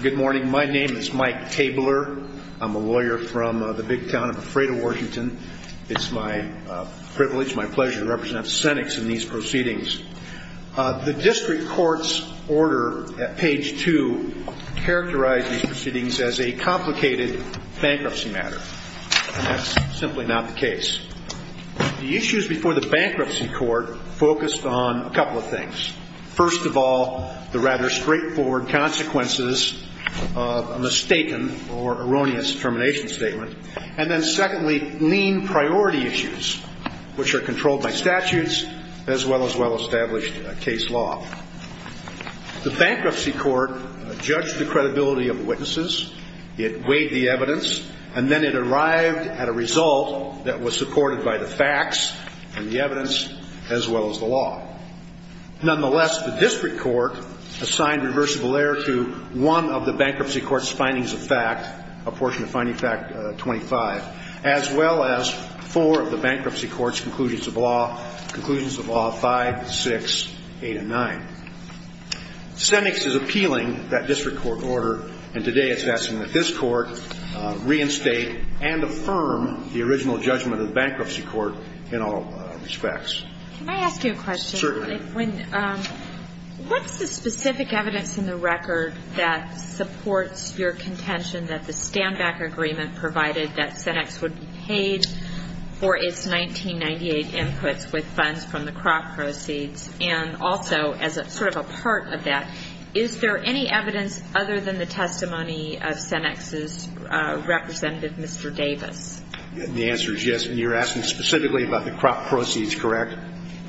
Good morning. My name is Mike Tabler. I'm a lawyer from the big town of Ephrata, Washington. It's my privilege, my pleasure, to represent Cenex in these proceedings. The district court's order at page 2 characterized these proceedings as a complicated bankruptcy matter. That's simply not the case. The issues before the bankruptcy court focused on a couple of things. First of all, the rather straightforward consequences of a mistaken or erroneous termination statement. And then secondly, lean priority issues, which are controlled by statutes as well as well-established case law. The bankruptcy court judged the credibility of the witnesses, it weighed the evidence, and then it arrived at a result that was supported by the facts and the evidence as well as the law. Nonetheless, the district court assigned reversible error to one of the bankruptcy court's findings of fact, a portion of finding fact 25, as well as four of the bankruptcy court's conclusions of law, conclusions of law 5, 6, 8, and 9. Cenex is appealing that district court order, and today it's asking that this court reinstate and affirm the original judgment of the bankruptcy court in all respects. Can I ask you a question? Certainly. What's the specific evidence in the record that supports your contention that the stand-back agreement provided that Cenex would be paid for its 1998 inputs with funds from the crop proceeds? And also, as sort of a part of that, is there any evidence other than the testimony of Cenex's representative, Mr. Davis? The answer is yes. And you're asking specifically about the crop proceeds, correct?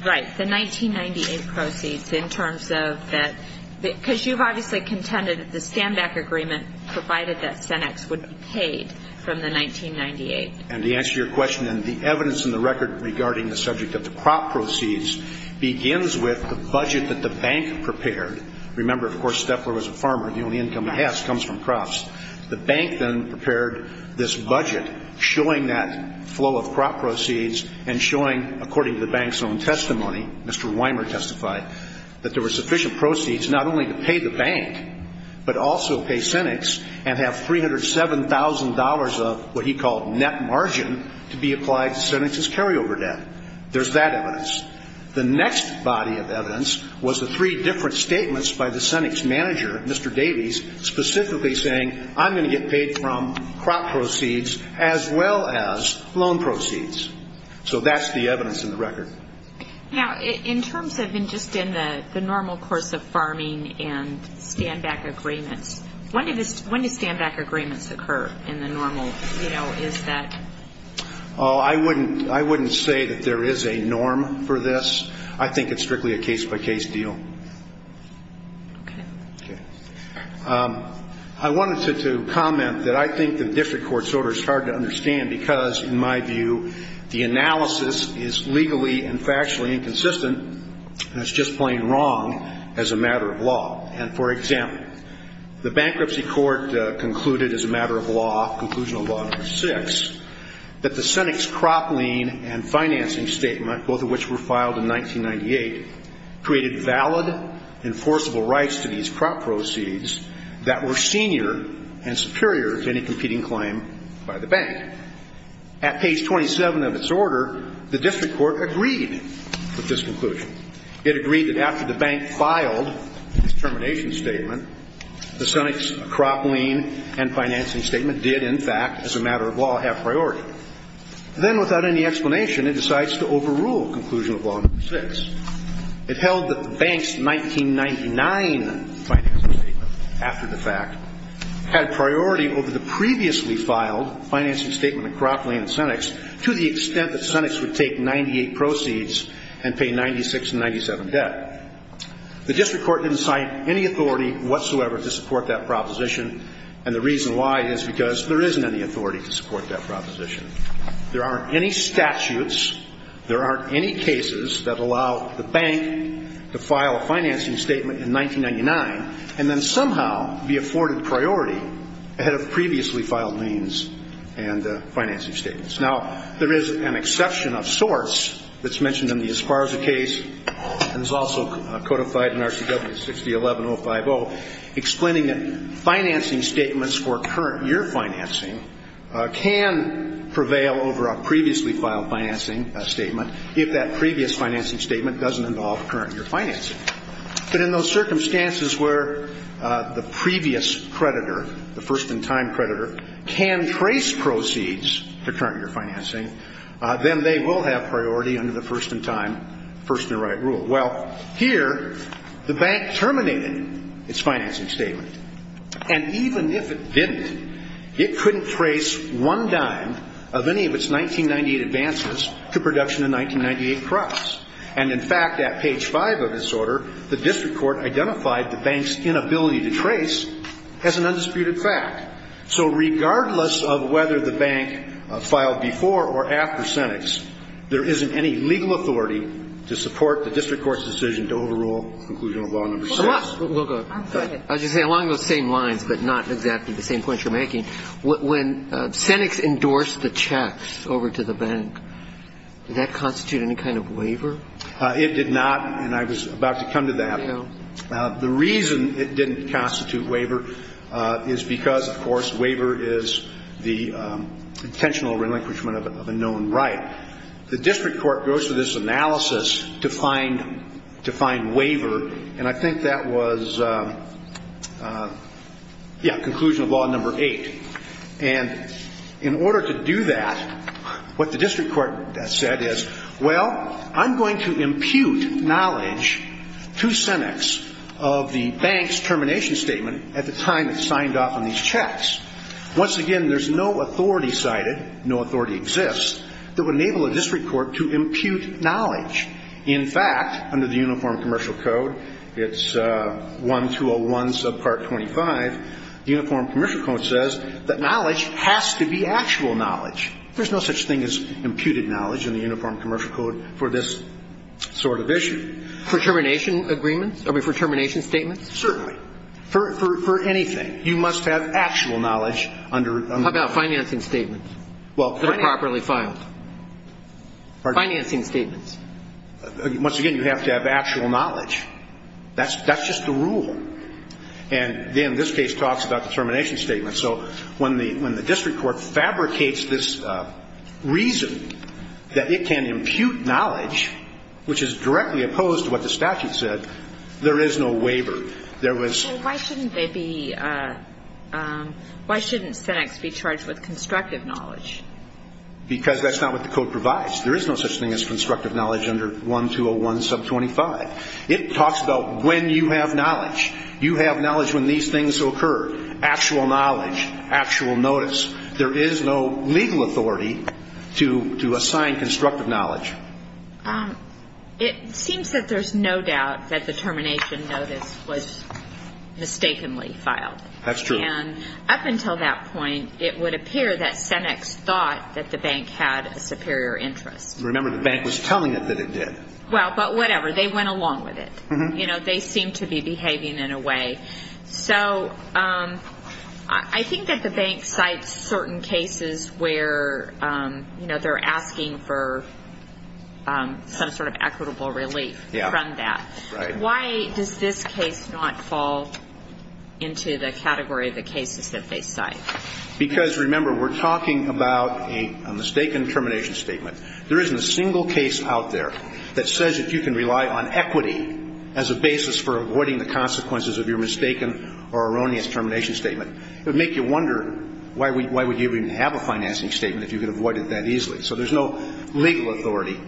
Right. The 1998 proceeds in terms of that. Because you've obviously contended that the stand-back agreement provided that Cenex would be paid from the 1998. And to answer your question, then, the evidence in the record regarding the subject of the crop proceeds begins with the budget that the bank prepared. Remember, of course, Steffler was a farmer. The only income he has comes from crops. The bank then prepared this budget showing that flow of crop proceeds and showing, according to the bank's own testimony, Mr. Weimer testified, that there were sufficient proceeds not only to pay the bank but also pay Cenex and have $307,000 of what he called net margin to be applied to Cenex's carryover debt. There's that evidence. The next body of evidence was the three different statements by the Cenex manager, Mr. Davis, specifically saying, I'm going to get paid from crop proceeds as well as loan proceeds. So that's the evidence in the record. Now, in terms of just in the normal course of farming and stand-back agreements, when do stand-back agreements occur in the normal, you know, is that? Oh, I wouldn't say that there is a norm for this. I think it's strictly a case-by-case deal. Okay. Okay. I wanted to comment that I think the district court's order is hard to understand because, in my view, the analysis is legally and factually inconsistent, and it's just plain wrong as a matter of law. And, for example, the bankruptcy court concluded as a matter of law, Conclusional Law No. 6, that the Cenex crop lien and financing statement, both of which were filed in 1998, created valid enforceable rights to these crop proceeds that were senior and superior to any competing claim by the bank. At page 27 of its order, the district court agreed with this conclusion. It agreed that after the bank filed its termination statement, the Cenex crop lien and financing statement did, in fact, as a matter of law, have priority. Then, without any explanation, it decides to overrule Conclusional Law No. 6. It held that the bank's 1999 financing statement, after the fact, had priority over the previously filed financing statement of crop lien and Cenex to the extent that Cenex would take 98 proceeds and pay 96 and 97 debt. The district court didn't cite any authority whatsoever to support that proposition, and the reason why is because there isn't any authority to support that proposition. There aren't any statutes. There aren't any cases that allow the bank to file a financing statement in 1999 and then somehow be afforded priority ahead of previously filed liens and financing statements. Now, there is an exception of sorts that's mentioned in the Esparza case, and is also codified in RCW 6011050, explaining that financing statements for current year financing can prevail over a previously filed financing statement if that previous financing statement doesn't involve current year financing. But in those circumstances where the previous creditor, the first-in-time creditor, can trace proceeds to current year financing, then they will have priority under the first-in-time first-in-right rule. Well, here, the bank terminated its financing statement, and even if it didn't, it couldn't trace one dime of any of its 1998 advances to production in 1998 crops. And, in fact, at page 5 of this order, the district court identified the bank's inability to trace as an undisputed fact. So regardless of whether the bank filed before or after Senex, there isn't any legal authority to support the district court's decision to overrule Conclusion of Law No. 6. As you say, along those same lines, but not exactly the same points you're making, when Senex endorsed the checks over to the bank, did that constitute any kind of waiver? It did not, and I was about to come to that. The reason it didn't constitute waiver is because, of course, waiver is the intentional relinquishment of a known right. The district court goes through this analysis to find waiver, and I think that was Conclusion of Law No. 8. And in order to do that, what the district court said is, Well, I'm going to impute knowledge to Senex of the bank's termination statement at the time it signed off on these checks. Once again, there's no authority cited, no authority exists, that would enable a district court to impute knowledge. In fact, under the Uniform Commercial Code, it's 1201 subpart 25, the Uniform Commercial Code says that knowledge has to be actual knowledge. There's no such thing as imputed knowledge in the Uniform Commercial Code for this sort of issue. For termination agreements? Are we for termination statements? Certainly. For anything. You must have actual knowledge under the law. How about financing statements that are properly filed? Financing statements. Once again, you have to have actual knowledge. That's just the rule. And then this case talks about the termination statement. So when the district court fabricates this reason that it can impute knowledge, which is directly opposed to what the statute said, there is no waiver. Why shouldn't Senex be charged with constructive knowledge? Because that's not what the code provides. There is no such thing as constructive knowledge under 1201 sub 25. It talks about when you have knowledge. You have knowledge when these things occur. Actual knowledge, actual notice. There is no legal authority to assign constructive knowledge. It seems that there's no doubt that the termination notice was mistakenly filed. That's true. And up until that point, it would appear that Senex thought that the bank had a superior interest. Remember, the bank was telling it that it did. Well, but whatever. They went along with it. They seemed to be behaving in a way. So I think that the bank cites certain cases where, you know, they're asking for some sort of equitable relief from that. Why does this case not fall into the category of the cases that they cite? Because, remember, we're talking about a mistaken termination statement. There isn't a single case out there that says that you can rely on equity as a basis for avoiding the consequences of your mistaken or erroneous termination statement. It would make you wonder why would you even have a financing statement if you could avoid it that easily. So there's no legal authority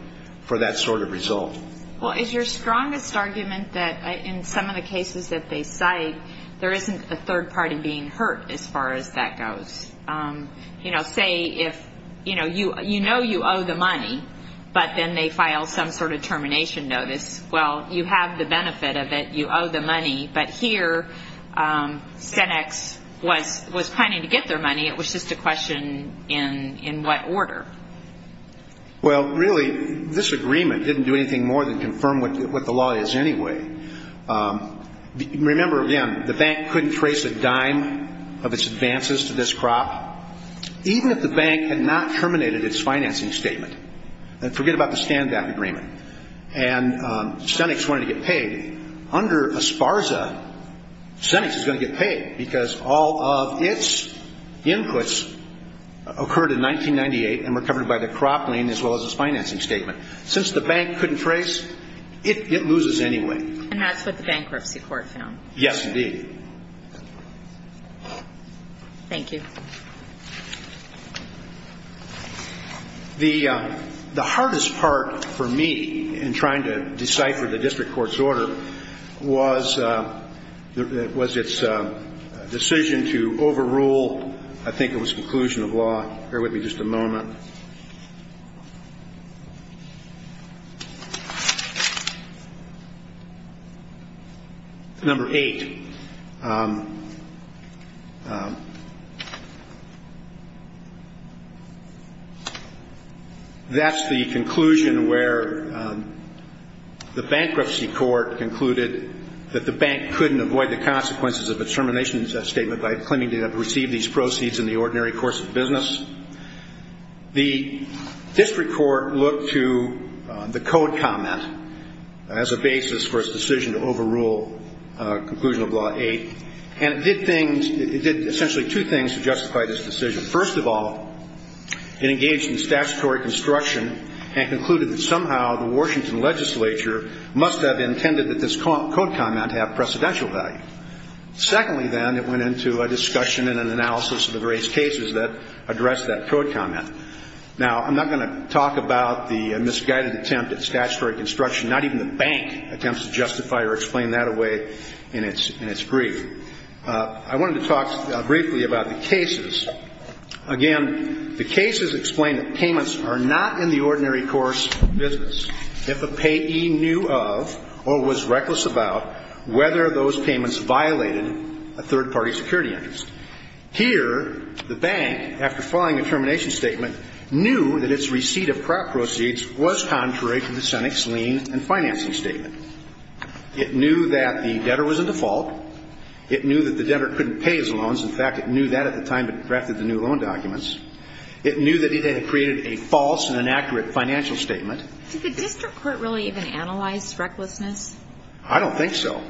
for that sort of result. Well, it's your strongest argument that in some of the cases that they cite, there isn't a third party being hurt as far as that goes. You know, say if, you know, you know you owe the money, but then they file some sort of termination notice. Well, you have the benefit of it. You owe the money. But here, Senex was planning to get their money. It was just a question in what order. Well, really, this agreement didn't do anything more than confirm what the law is anyway. Remember, again, the bank couldn't trace a dime of its advances to this crop, even if the bank had not terminated its financing statement. And forget about the stand-down agreement. And Senex wanted to get paid. Under Esparza, Senex is going to get paid because all of its inputs occurred in 1998 and were covered by the crop lien as well as its financing statement. Since the bank couldn't trace, it loses anyway. And that's what the bankruptcy court found. Yes, indeed. Thank you. The hardest part for me in trying to decipher the district court's order was its decision to overrule, I think it was conclusion of law. Bear with me just a moment. Number eight. That's the conclusion where the bankruptcy court concluded that the bank couldn't avoid the consequences of a termination statement by claiming to have received these proceeds in the ordinary course of business. The district court looked to the code comment as a basis for its decision to overrule conclusion of law eight, and it did things, it did essentially two things to justify this decision. First of all, it engaged in statutory construction and concluded that somehow the Washington legislature must have intended that this code comment have precedential value. Secondly, then, it went into a discussion and an analysis of the various cases that addressed that code comment. Now, I'm not going to talk about the misguided attempt at statutory construction. Not even the bank attempts to justify or explain that away in its brief. I wanted to talk briefly about the cases. Again, the cases explain that payments are not in the ordinary course of business. If a payee knew of or was reckless about whether those payments violated a third-party security interest. Here, the bank, after filing a termination statement, knew that its receipt of proceeds was contrary to the Senate's lien and financing statement. It knew that the debtor was a default. It knew that the debtor couldn't pay his loans. In fact, it knew that at the time it drafted the new loan documents. It knew that it had created a false and inaccurate financial statement. Did the district court really even analyze recklessness? I don't think so.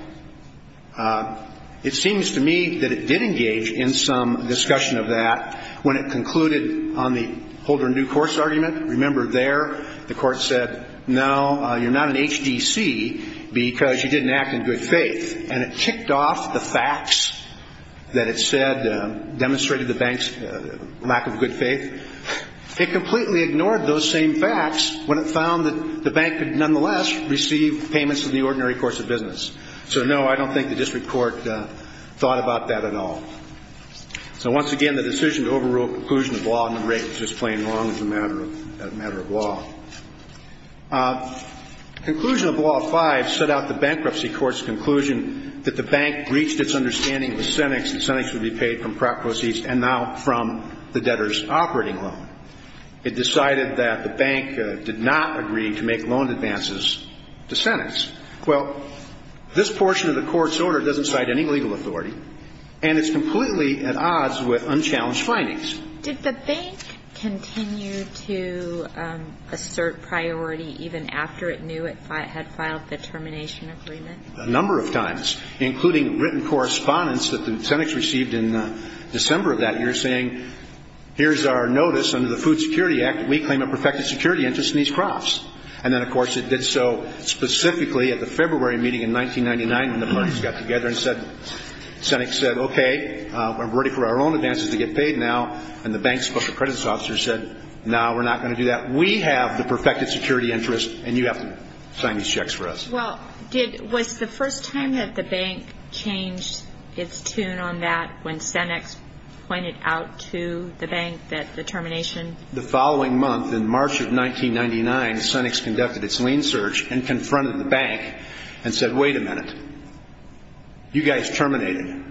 It seems to me that it did engage in some discussion of that. When it concluded on the Holder and New Course argument, remember there, the court said, no, you're not an HGC because you didn't act in good faith. And it ticked off the facts that it said demonstrated the bank's lack of good faith. It completely ignored those same facts when it found that the bank could nonetheless receive payments in the ordinary course of business. So, no, I don't think the district court thought about that at all. So, once again, the decision to overrule a conclusion of law number eight was just plain wrong as a matter of law. Conclusion of law five set out the bankruptcy court's conclusion that the bank breached its understanding of the sentence and the sentence would be paid from prop proceeds and not from the debtor's operating loan. It decided that the bank did not agree to make loan advances to sentence. Well, this portion of the court's order doesn't cite any legal authority, and it's completely at odds with unchallenged findings. Did the bank continue to assert priority even after it knew it had filed the termination agreement? A number of times, including written correspondence that the Senate received in December of that year saying, here's our notice under the Food Security Act that we claim a perfected security interest in these crops. And then, of course, it did so specifically at the February meeting in 1999 when the parties got together and said, the Senate said, okay, we're ready for our own advances to get paid now. And the bank's special credits officer said, no, we're not going to do that. We have the perfected security interest, and you have to sign these checks for us. Well, was the first time that the bank changed its tune on that when Senex pointed out to the bank that the termination? The following month, in March of 1999, Senex conducted its lien search and confronted the bank and said, wait a minute. You guys terminated.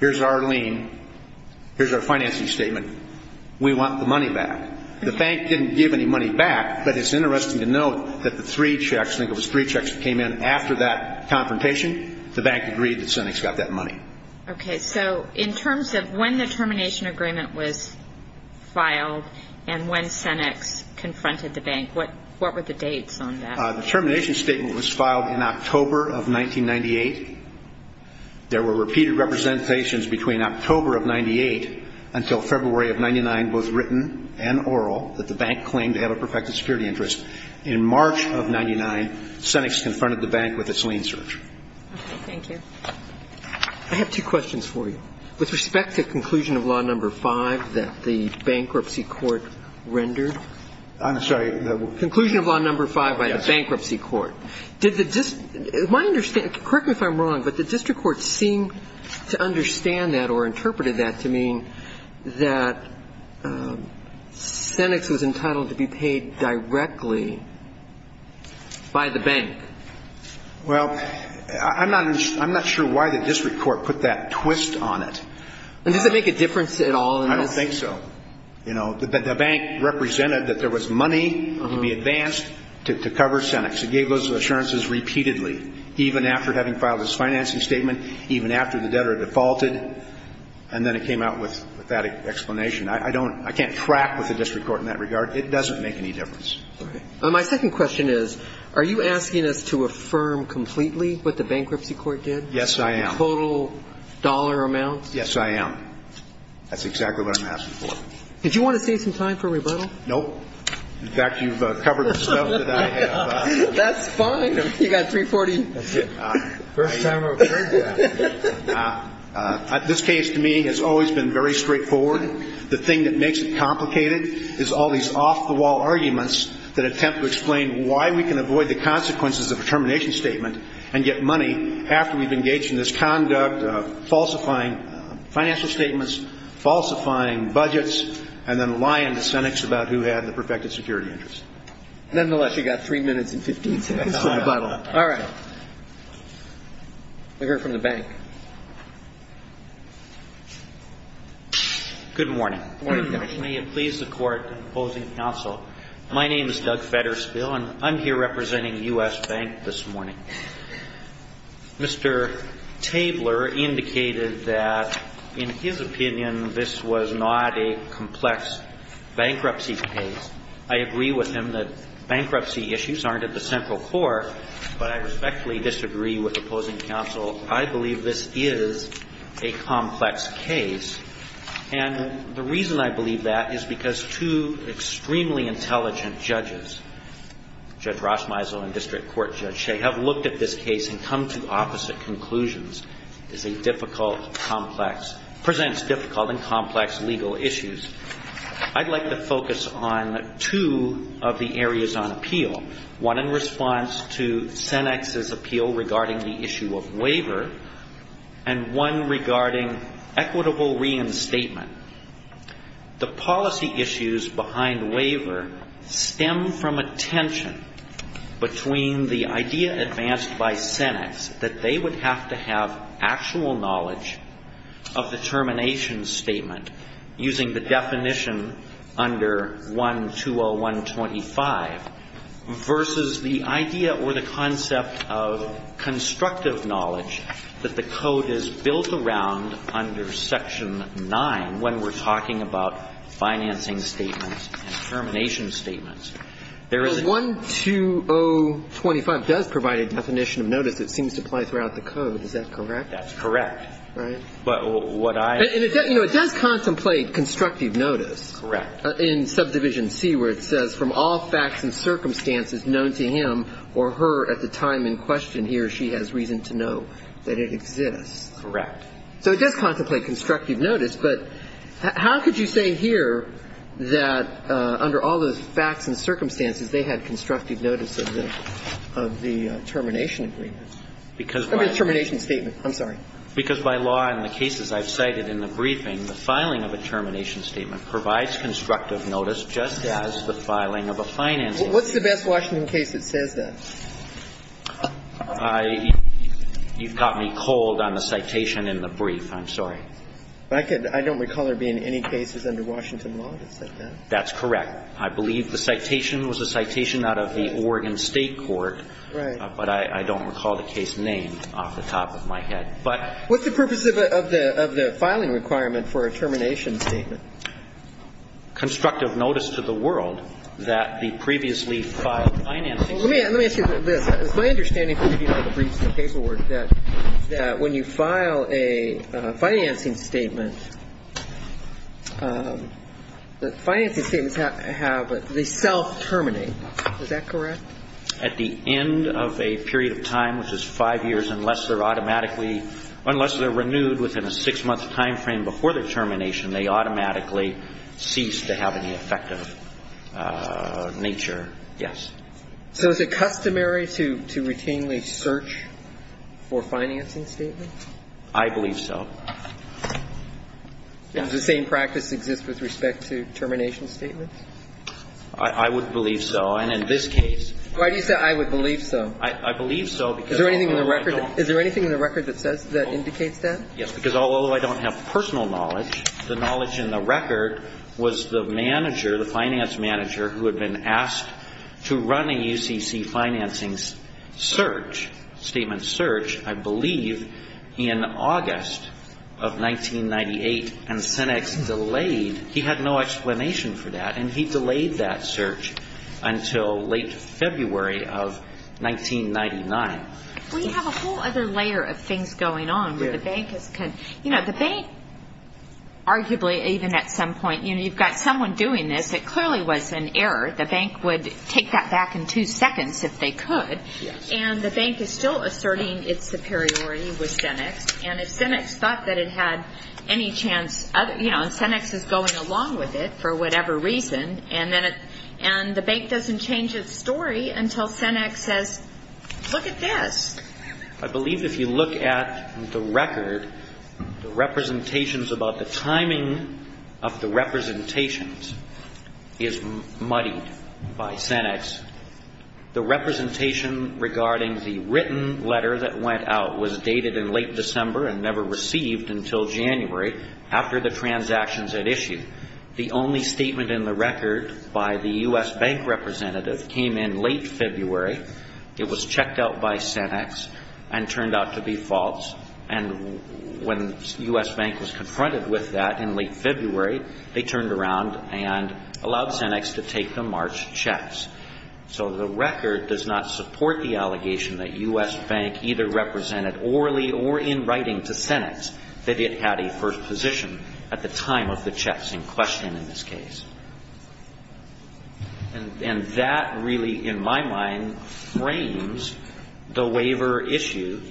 Here's our lien. Here's our financing statement. We want the money back. The bank didn't give any money back, but it's interesting to note that the three checks, I think it was three checks that came in after that confrontation, the bank agreed that Senex got that money. Okay, so in terms of when the termination agreement was filed and when Senex confronted the bank, what were the dates on that? The termination statement was filed in October of 1998. There were repeated representations between October of 98 until February of 99, both written and oral, that the bank claimed to have a perfected security interest. In March of 99, Senex confronted the bank with its lien search. Okay, thank you. I have two questions for you. With respect to conclusion of law number five that the bankruptcy court rendered? I'm sorry. Conclusion of law number five by the bankruptcy court. Correct me if I'm wrong, but the district court seemed to understand that or interpreted that to mean that Senex was entitled to be paid directly by the bank. Well, I'm not sure why the district court put that twist on it. Does it make a difference at all? I don't think so. You know, the bank represented that there was money to be advanced to cover Senex. It gave those assurances repeatedly, even after having filed its financing statement, even after the debtor defaulted, and then it came out with that explanation. I can't track with the district court in that regard. It doesn't make any difference. Okay. My second question is, are you asking us to affirm completely what the bankruptcy court did? Yes, I am. Total dollar amount? Yes, I am. That's exactly what I'm asking for. Did you want to save some time for a rebuttal? Nope. In fact, you've covered the stuff that I have. That's fine. You got $340. That's it. First time I've heard that. This case, to me, has always been very straightforward. The thing that makes it complicated is all these off-the-wall arguments that attempt to explain why we can avoid the consequences of a termination statement and get money after we've engaged in this conduct of falsifying financial statements, falsifying budgets, and then lying to cynics about who had the perfected security interest. Nonetheless, you've got three minutes and 15 seconds for a rebuttal. All right. We'll hear from the bank. Good morning. Good morning, Judge. May it please the Court in opposing counsel, my name is Doug Fedderspiel, and I'm here representing U.S. Bank this morning. Mr. Tabler indicated that, in his opinion, this was not a complex bankruptcy case. I agree with him that bankruptcy issues aren't at the central core, but I respectfully disagree with opposing counsel. I believe this is a complex case. And the reason I believe that is because two extremely intelligent judges, Judge Rosmeisel and District Court Judge Shea, have looked at this case and come to opposite conclusions. It's a difficult, complex, presents difficult and complex legal issues. I'd like to focus on two of the areas on appeal, one in response to Cenex's appeal regarding the issue of waiver, and one regarding equitable reinstatement. The policy issues behind waiver stem from a tension between the idea advanced by Cenex that they would have to have actual knowledge of the termination statement using the definition under 120125 versus the idea or the concept of constructive knowledge that the code is built around under Section 9 when we're talking about financing statements and termination statements. There is a one. 12025 does provide a definition of notice. It seems to play throughout the code. Is that correct? That's correct. Right. But what I. You know, it does contemplate constructive notice. Correct. In subdivision C, where it says, from all facts and circumstances known to him or her at the time in question, he or she has reason to know that it exists. Correct. So it does contemplate constructive notice. But how could you say here that under all those facts and circumstances, they had constructive notice of the termination agreement? Because by. I mean termination statement. I'm sorry. Because by law in the cases I've cited in the briefing, the filing of a termination statement provides constructive notice just as the filing of a financing. What's the best Washington case that says that? I. You've got me cold on the citation in the brief. I'm sorry. I could. I don't recall there being any cases under Washington law that said that. That's correct. I believe the citation was a citation out of the Oregon State court. Right. But I don't recall the case name off the top of my head. But. What's the purpose of the filing requirement for a termination statement? Constructive notice to the world that the previously filed financing. Let me ask you this. It's my understanding that when you file a financing statement, the financing statements have the self terminate. Is that correct? At the end of a period of time, which is five years, unless they're automatically unless they're renewed within a six month timeframe before the termination, they automatically cease to have any effect of nature. Yes. So is it customary to routinely search for financing statements? I believe so. Does the same practice exist with respect to termination statements? I would believe so. And in this case. Why do you say I would believe so? I believe so. Is there anything in the record? Is there anything in the record that says that indicates that? Yes. Because although I don't have personal knowledge, the knowledge in the record was the manager, the finance manager who had been asked to run a UCC financing search, statement search, I believe, in August of 1998. And Senex delayed. He had no explanation for that. And he delayed that search until late February of 1999. We have a whole other layer of things going on. You know, the bank arguably even at some point, you know, you've got someone doing this. It clearly was an error. The bank would take that back in two seconds if they could. And the bank is still asserting its superiority with Senex. And if Senex thought that it had any chance, you know, Senex is going along with it for whatever reason, and the bank doesn't change its story until Senex says, look at this. I believe if you look at the record, the representations about the timing of the representations is muddied by Senex. The representation regarding the written letter that went out was dated in late December and never received until January after the transactions had issued. The only statement in the record by the U.S. bank representative came in late February. It was checked out by Senex and turned out to be false. And when U.S. bank was confronted with that in late February, they turned around and allowed Senex to take the March checks. So the record does not support the allegation that U.S. bank either represented orally or in writing to Senex that it had a first position at the time of the checks in question in this case. And that really, in my mind, frames the waiver issue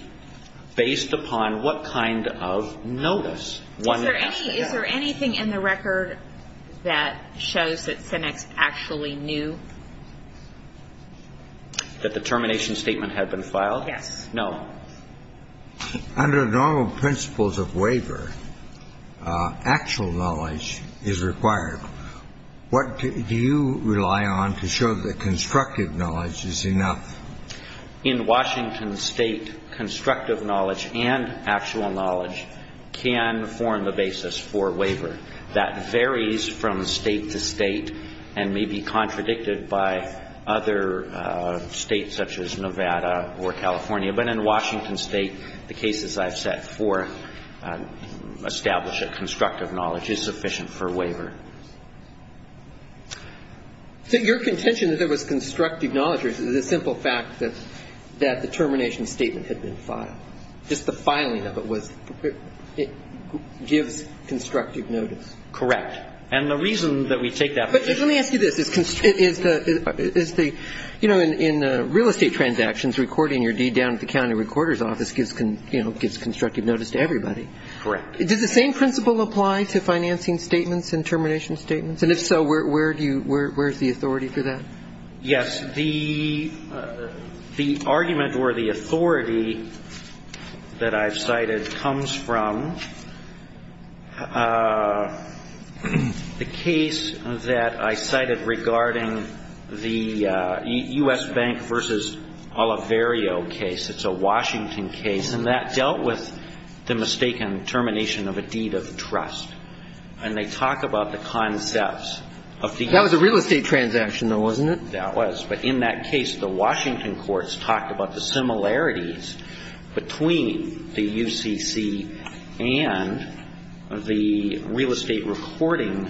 based upon what kind of notice one has to have. Is there anything in the record that shows that Senex actually knew? That the termination statement had been filed? Yes. No. Under normal principles of waiver, actual knowledge is required. What do you rely on to show that constructive knowledge is enough? In Washington State, constructive knowledge and actual knowledge can form the basis for waiver. That varies from state to state and may be contradicted by other states such as Nevada or California. But in Washington State, the cases I've set for establish a constructive knowledge is sufficient for waiver. So your contention that there was constructive knowledge is the simple fact that the termination statement had been filed. Just the filing of it was, it gives constructive notice. Correct. And the reason that we take that position. But let me ask you this. Is the, you know, in real estate transactions, recording your deed down at the county recorder's office gives constructive notice to everybody. Correct. Does the same principle apply to financing statements and termination statements? And if so, where do you, where is the authority for that? Yes. The argument or the authority that I've cited comes from the case that I cited regarding the U.S. Bank v. Oliverio case. It's a Washington case. And that dealt with the mistaken termination of a deed of trust. And they talk about the concepts of the. That was a real estate transaction, though, wasn't it? That was. But in that case, the Washington courts talked about the similarities between the UCC and the real estate recording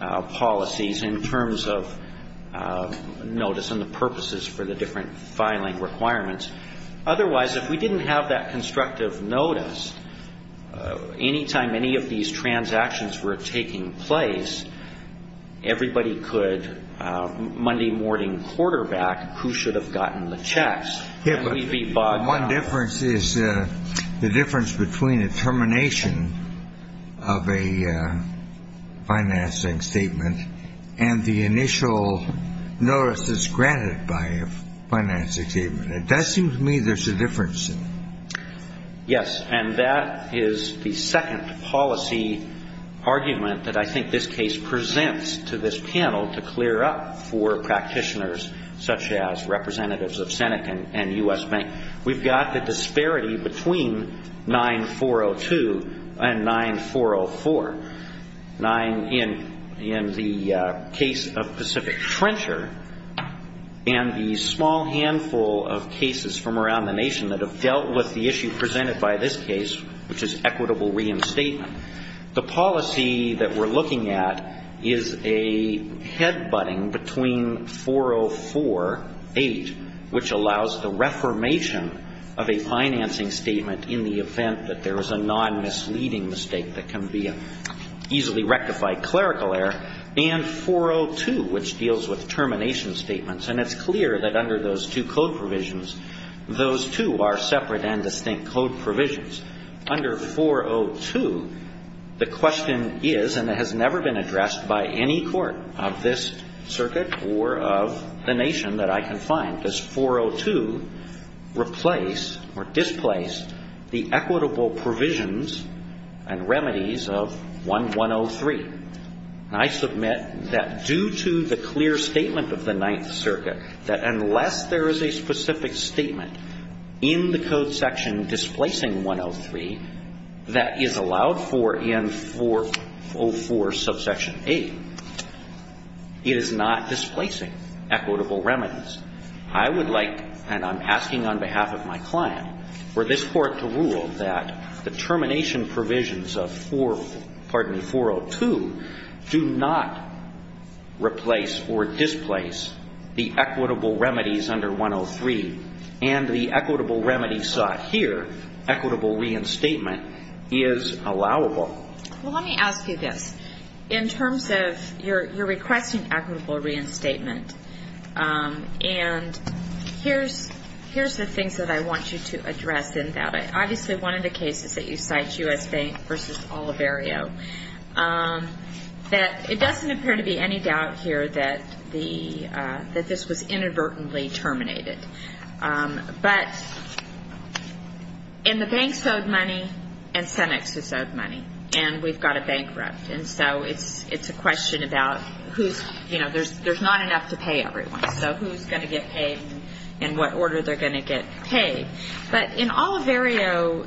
policies in terms of notice and the purposes for the different filing requirements. Otherwise, if we didn't have that constructive notice, any time any of these transactions were taking place, everybody could Monday morning quarterback who should have gotten the checks. One difference is the difference between a termination of a financing statement and the initial notice that's granted by a financing statement. That seems to me there's a difference. Yes. And that is the second policy argument that I think this case presents to this panel to clear up for practitioners such as representatives of Senate and U.S. Bank. We've got the disparity between 9402 and 9404. In the case of Pacific Trencher and the small handful of cases from around the nation that have dealt with the issue presented by this case, which is equitable reinstatement, the policy that we're looking at is a head-butting between 4048, which allows the reformation of a financing statement in the event that there is a non-misleading mistake that can be easily rectified clerical error, and 402, which deals with termination statements. And it's clear that under those two code provisions, those two are separate and distinct code provisions. Under 402, the question is, and it has never been addressed by any court of this circuit or of the nation that I can find, does 402 replace or displace the equitable provisions and remedies of 1103? And I submit that due to the clear statement of the Ninth Circuit that unless there is a specific statement in the code section displacing 103 that is allowed for in 404 subsection 8, it is not displacing equitable remedies. I would like, and I'm asking on behalf of my client, for this Court to rule that the termination provisions of 402 do not replace or displace the equitable remedies under 103. And the equitable remedies sought here, equitable reinstatement, is allowable. Well, let me ask you this. In terms of your requesting equitable reinstatement, and here's the things that I want you to address in that. Obviously, one of the cases that you cite, U.S. Bank v. Oliverio, that it doesn't appear to be any doubt here that this was inadvertently terminated. But in the banks owed money and Senex was owed money, and we've got a bankrupt. And so it's a question about who's, you know, there's not enough to pay everyone. So who's going to get paid and in what order they're going to get paid? But in Oliverio,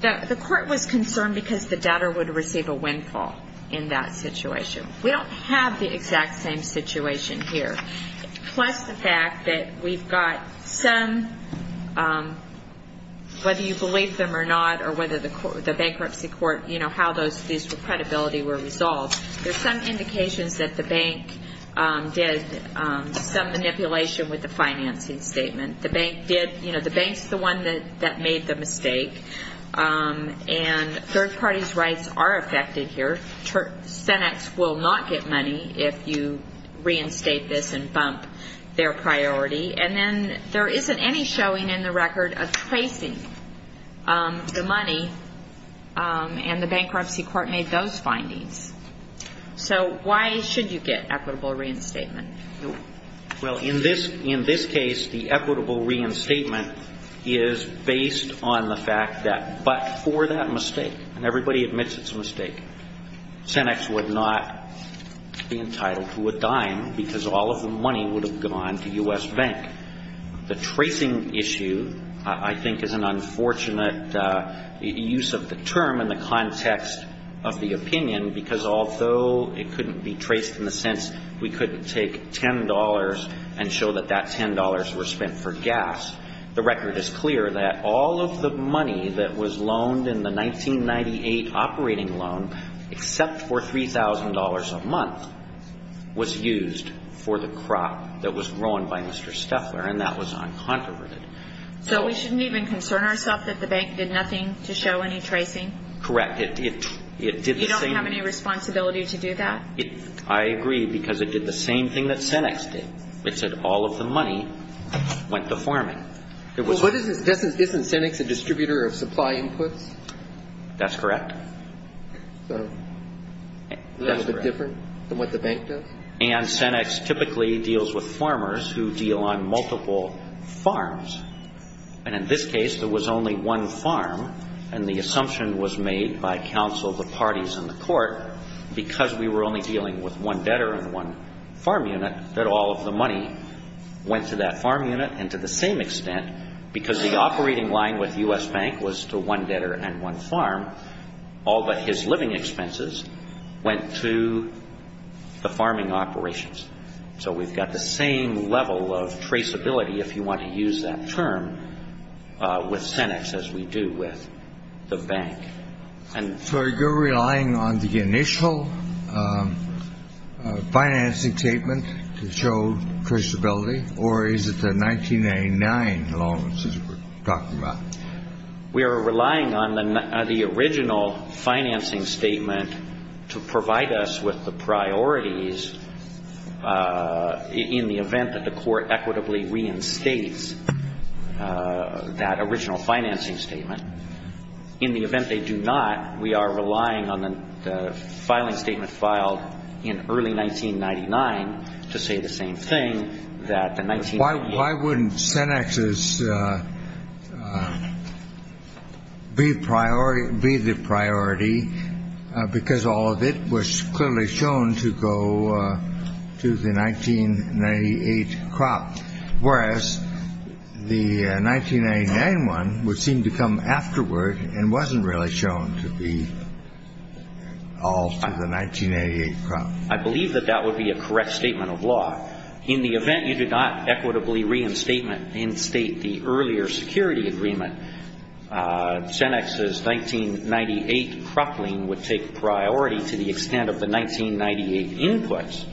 the Court was concerned because the debtor would receive a windfall in that situation. We don't have the exact same situation here. Plus the fact that we've got some, whether you believe them or not, or whether the bankruptcy court, you know, how these credibilities were resolved, there's some indications that the bank did some manipulation with the financing statement. The bank did, you know, the bank's the one that made the mistake. And third parties' rights are affected here. Senex will not get money if you reinstate this and bump their priority. And then there isn't any showing in the record of tracing the money, and the bankruptcy court made those findings. So why should you get equitable reinstatement? Well, in this case, the equitable reinstatement is based on the fact that but for that mistake, and everybody admits it's a mistake, Senex would not be entitled to a dime because all of the money would have gone to U.S. Bank. The tracing issue, I think, is an unfortunate use of the term in the context of the opinion because although it couldn't be traced in the sense we couldn't take $10 and show that that $10 were spent for gas, the record is clear that all of the money that was loaned in the 1998 operating loan, except for $3,000 a month, was used for the crop that was grown by Mr. Steffler, and that was uncontroverted. So we shouldn't even concern ourselves that the bank did nothing to show any tracing? Correct. You don't have any responsibility to do that? I agree because it did the same thing that Senex did. It said all of the money went to farming. Isn't Senex a distributor of supply inputs? That's correct. So that's a bit different than what the bank does? And Senex typically deals with farmers who deal on multiple farms. And in this case, there was only one farm, and the assumption was made by counsel of the parties in the court, because we were only dealing with one debtor and one farm unit, that all of the money went to that farm unit, and to the same extent, because the operating line with U.S. Bank was to one debtor and one farm, all but his living expenses went to the farming operations. So we've got the same level of traceability, if you want to use that term, with Senex as we do with the bank. So are you relying on the initial financing statement to show traceability, or is it the 1999 loans that we're talking about? We are relying on the original financing statement to provide us with the priorities, in the event that the court equitably reinstates that original financing statement. In the event they do not, we are relying on the filing statement filed in early 1999 to say the same thing, that the 19- Why wouldn't Senex's be the priority, because all of it was clearly shown to go to the 1998 crop, whereas the 1999 one would seem to come afterward and wasn't really shown to be all to the 1988 crop? I believe that that would be a correct statement of law. In the event you do not equitably reinstate the earlier security agreement, Senex's 1998 crop lien would take priority to the extent of the 1998 inputs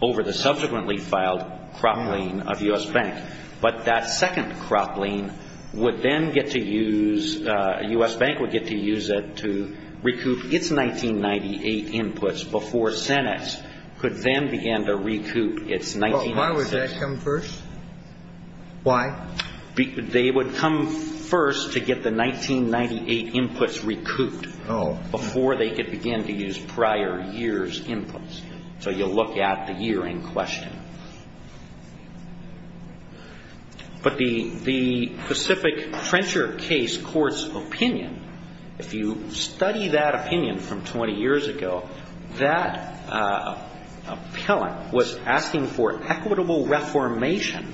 over the subsequently filed crop lien of U.S. Bank. But that second crop lien would then get to use, U.S. Bank would get to use it to recoup its 1998 inputs before Senex could then begin to recoup its 1996. Why would that come first? Why? They would come first to get the 1998 inputs recouped before they could begin to use prior year's inputs. So you look at the year in question. But the specific Frencher case court's opinion, if you study that opinion from 20 years ago, that appellant was asking for equitable reformation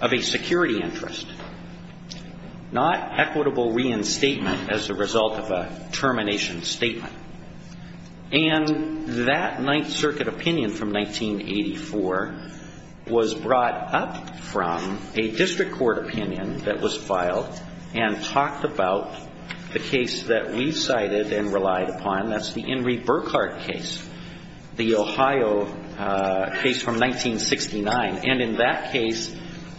of a security interest, not equitable reinstatement as a result of a termination statement. And that Ninth Circuit opinion from 1984 was brought up from a district court opinion that was filed and talked about the case that we cited and relied upon, that's the Henry Burkhardt case, the Ohio case from 1969. And in that case,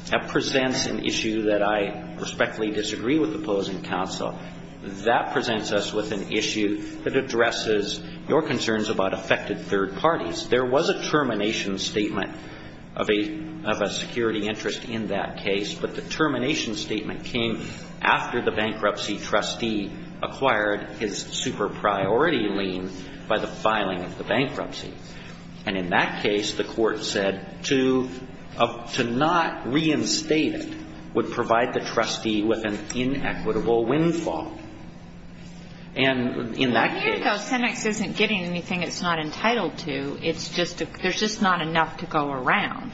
that presents an issue that I respectfully disagree with the opposing counsel. That presents us with an issue that addresses your concerns about affected third parties. There was a termination statement of a security interest in that case, but the termination statement came after the bankruptcy trustee acquired his super priority lien by the filing of the bankruptcy. And in that case, the court said to not reinstate it would provide the trustee with an inequitable windfall. And in that case — A year ago, Cenex isn't getting anything it's not entitled to. There's just not enough to go around.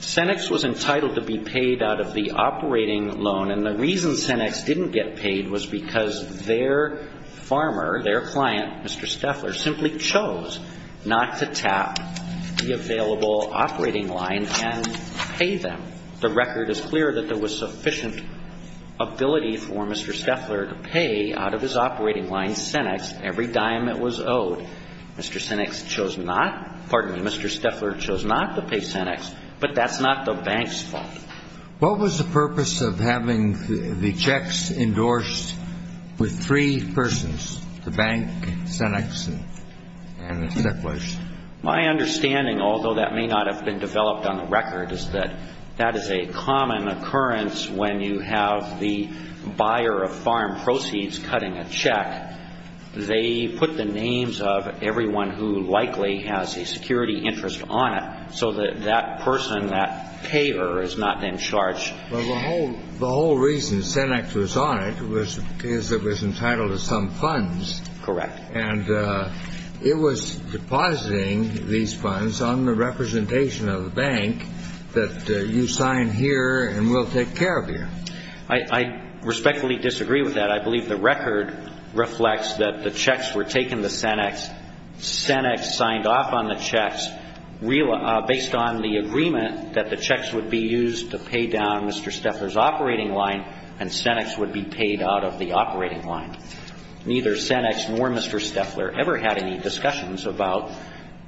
Cenex was entitled to be paid out of the operating loan. And the reason Cenex didn't get paid was because their farmer, their client, Mr. Steffler, simply chose not to tap the available operating line and pay them. The record is clear that there was sufficient ability for Mr. Steffler to pay out of his operating line, Cenex, every dime it was owed. Mr. Cenex chose not — pardon me, Mr. Steffler chose not to pay Cenex, but that's not the bank's fault. What was the purpose of having the checks endorsed with three persons, the bank, Cenex, and Mr. Steffler? My understanding, although that may not have been developed on the record, is that that is a common occurrence when you have the buyer of farm proceeds cutting a check. They put the names of everyone who likely has a security interest on it so that that person, that payer, is not in charge. Well, the whole reason Cenex was on it was because it was entitled to some funds. Correct. And it was depositing these funds on the representation of the bank that you sign here and we'll take care of you. I respectfully disagree with that. I believe the record reflects that the checks were taken to Cenex, Cenex signed off on the checks based on the agreement that the checks would be used to pay down Mr. Steffler's operating line and Cenex would be paid out of the operating line. Neither Cenex nor Mr. Steffler ever had any discussions about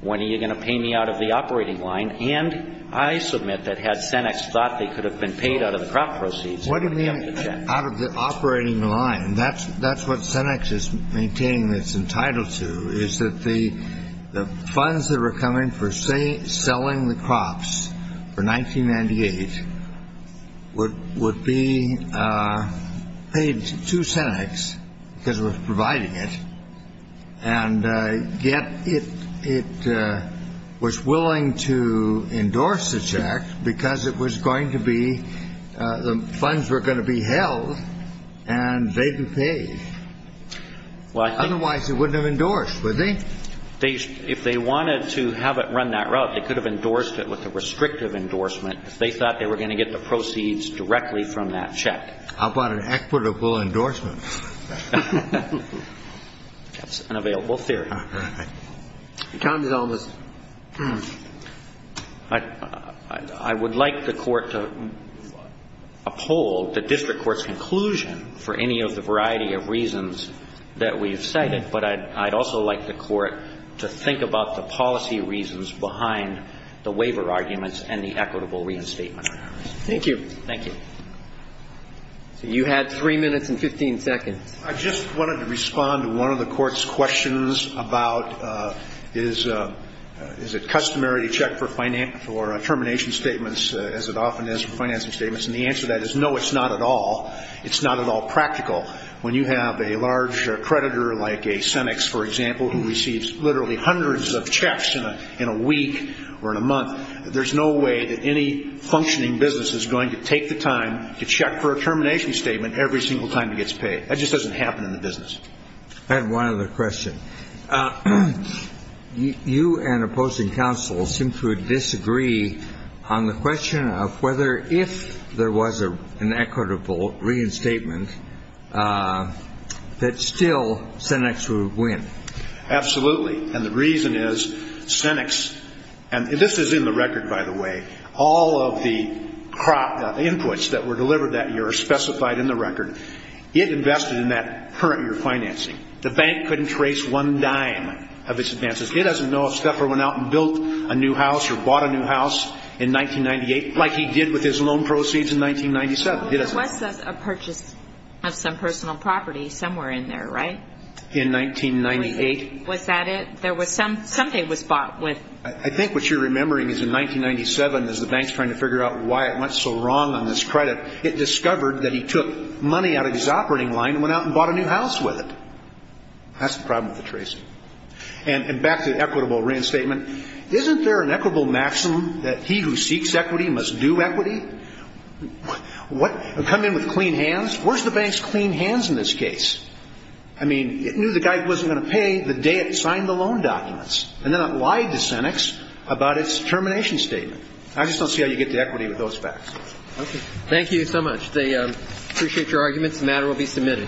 when are you going to pay me out of the operating line, and I submit that had Cenex thought they could have been paid out of the crop proceeds. What do you mean out of the operating line? That's what Cenex is maintaining it's entitled to, is that the funds that were coming for, say, selling the crops for 1998 would be paid to Cenex because it was providing it And yet it was willing to endorse the check because it was going to be, the funds were going to be held and they'd be paid. Otherwise it wouldn't have endorsed, would they? If they wanted to have it run that route, they could have endorsed it with a restrictive endorsement if they thought they were going to get the proceeds directly from that check. How about an equitable endorsement? That's an available theory. Your time is almost up. I would like the Court to uphold the district court's conclusion for any of the variety of reasons that we've cited, but I'd also like the Court to think about the policy reasons behind the waiver arguments and the equitable reinstatement. Thank you. Thank you. You had three minutes and 15 seconds. I just wanted to respond to one of the Court's questions about is it customary to check for termination statements as it often is for financing statements? And the answer to that is no, it's not at all. It's not at all practical. When you have a large creditor like a Cenex, for example, who receives literally hundreds of checks in a week or in a month, there's no way that any functioning business is going to take the time to check for a termination statement every single time it gets paid. That just doesn't happen in the business. I have one other question. You and opposing counsel seem to disagree on the question of whether if there was an equitable reinstatement that still Cenex would win. Absolutely. And the reason is Cenex, and this is in the record, by the way, all of the inputs that were delivered that year are specified in the record. It invested in that current year financing. The bank couldn't trace one dime of its advances. It doesn't know if Steffer went out and built a new house or bought a new house in 1998 like he did with his loan proceeds in 1997. There was a purchase of some personal property somewhere in there, right? In 1998. Was that it? Something was bought with it. I think what you're remembering is in 1997, as the bank's trying to figure out why it went so wrong on this credit, it discovered that he took money out of his operating line and went out and bought a new house with it. That's the problem with the tracing. And back to the equitable reinstatement, isn't there an equitable maximum that he who seeks equity must do equity? Come in with clean hands? Where's the bank's clean hands in this case? I mean, it knew the guy wasn't going to pay the day it signed the loan documents, and then it lied to Senex about its termination statement. I just don't see how you get to equity with those facts. Okay. Thank you so much. I appreciate your arguments. The matter will be submitted.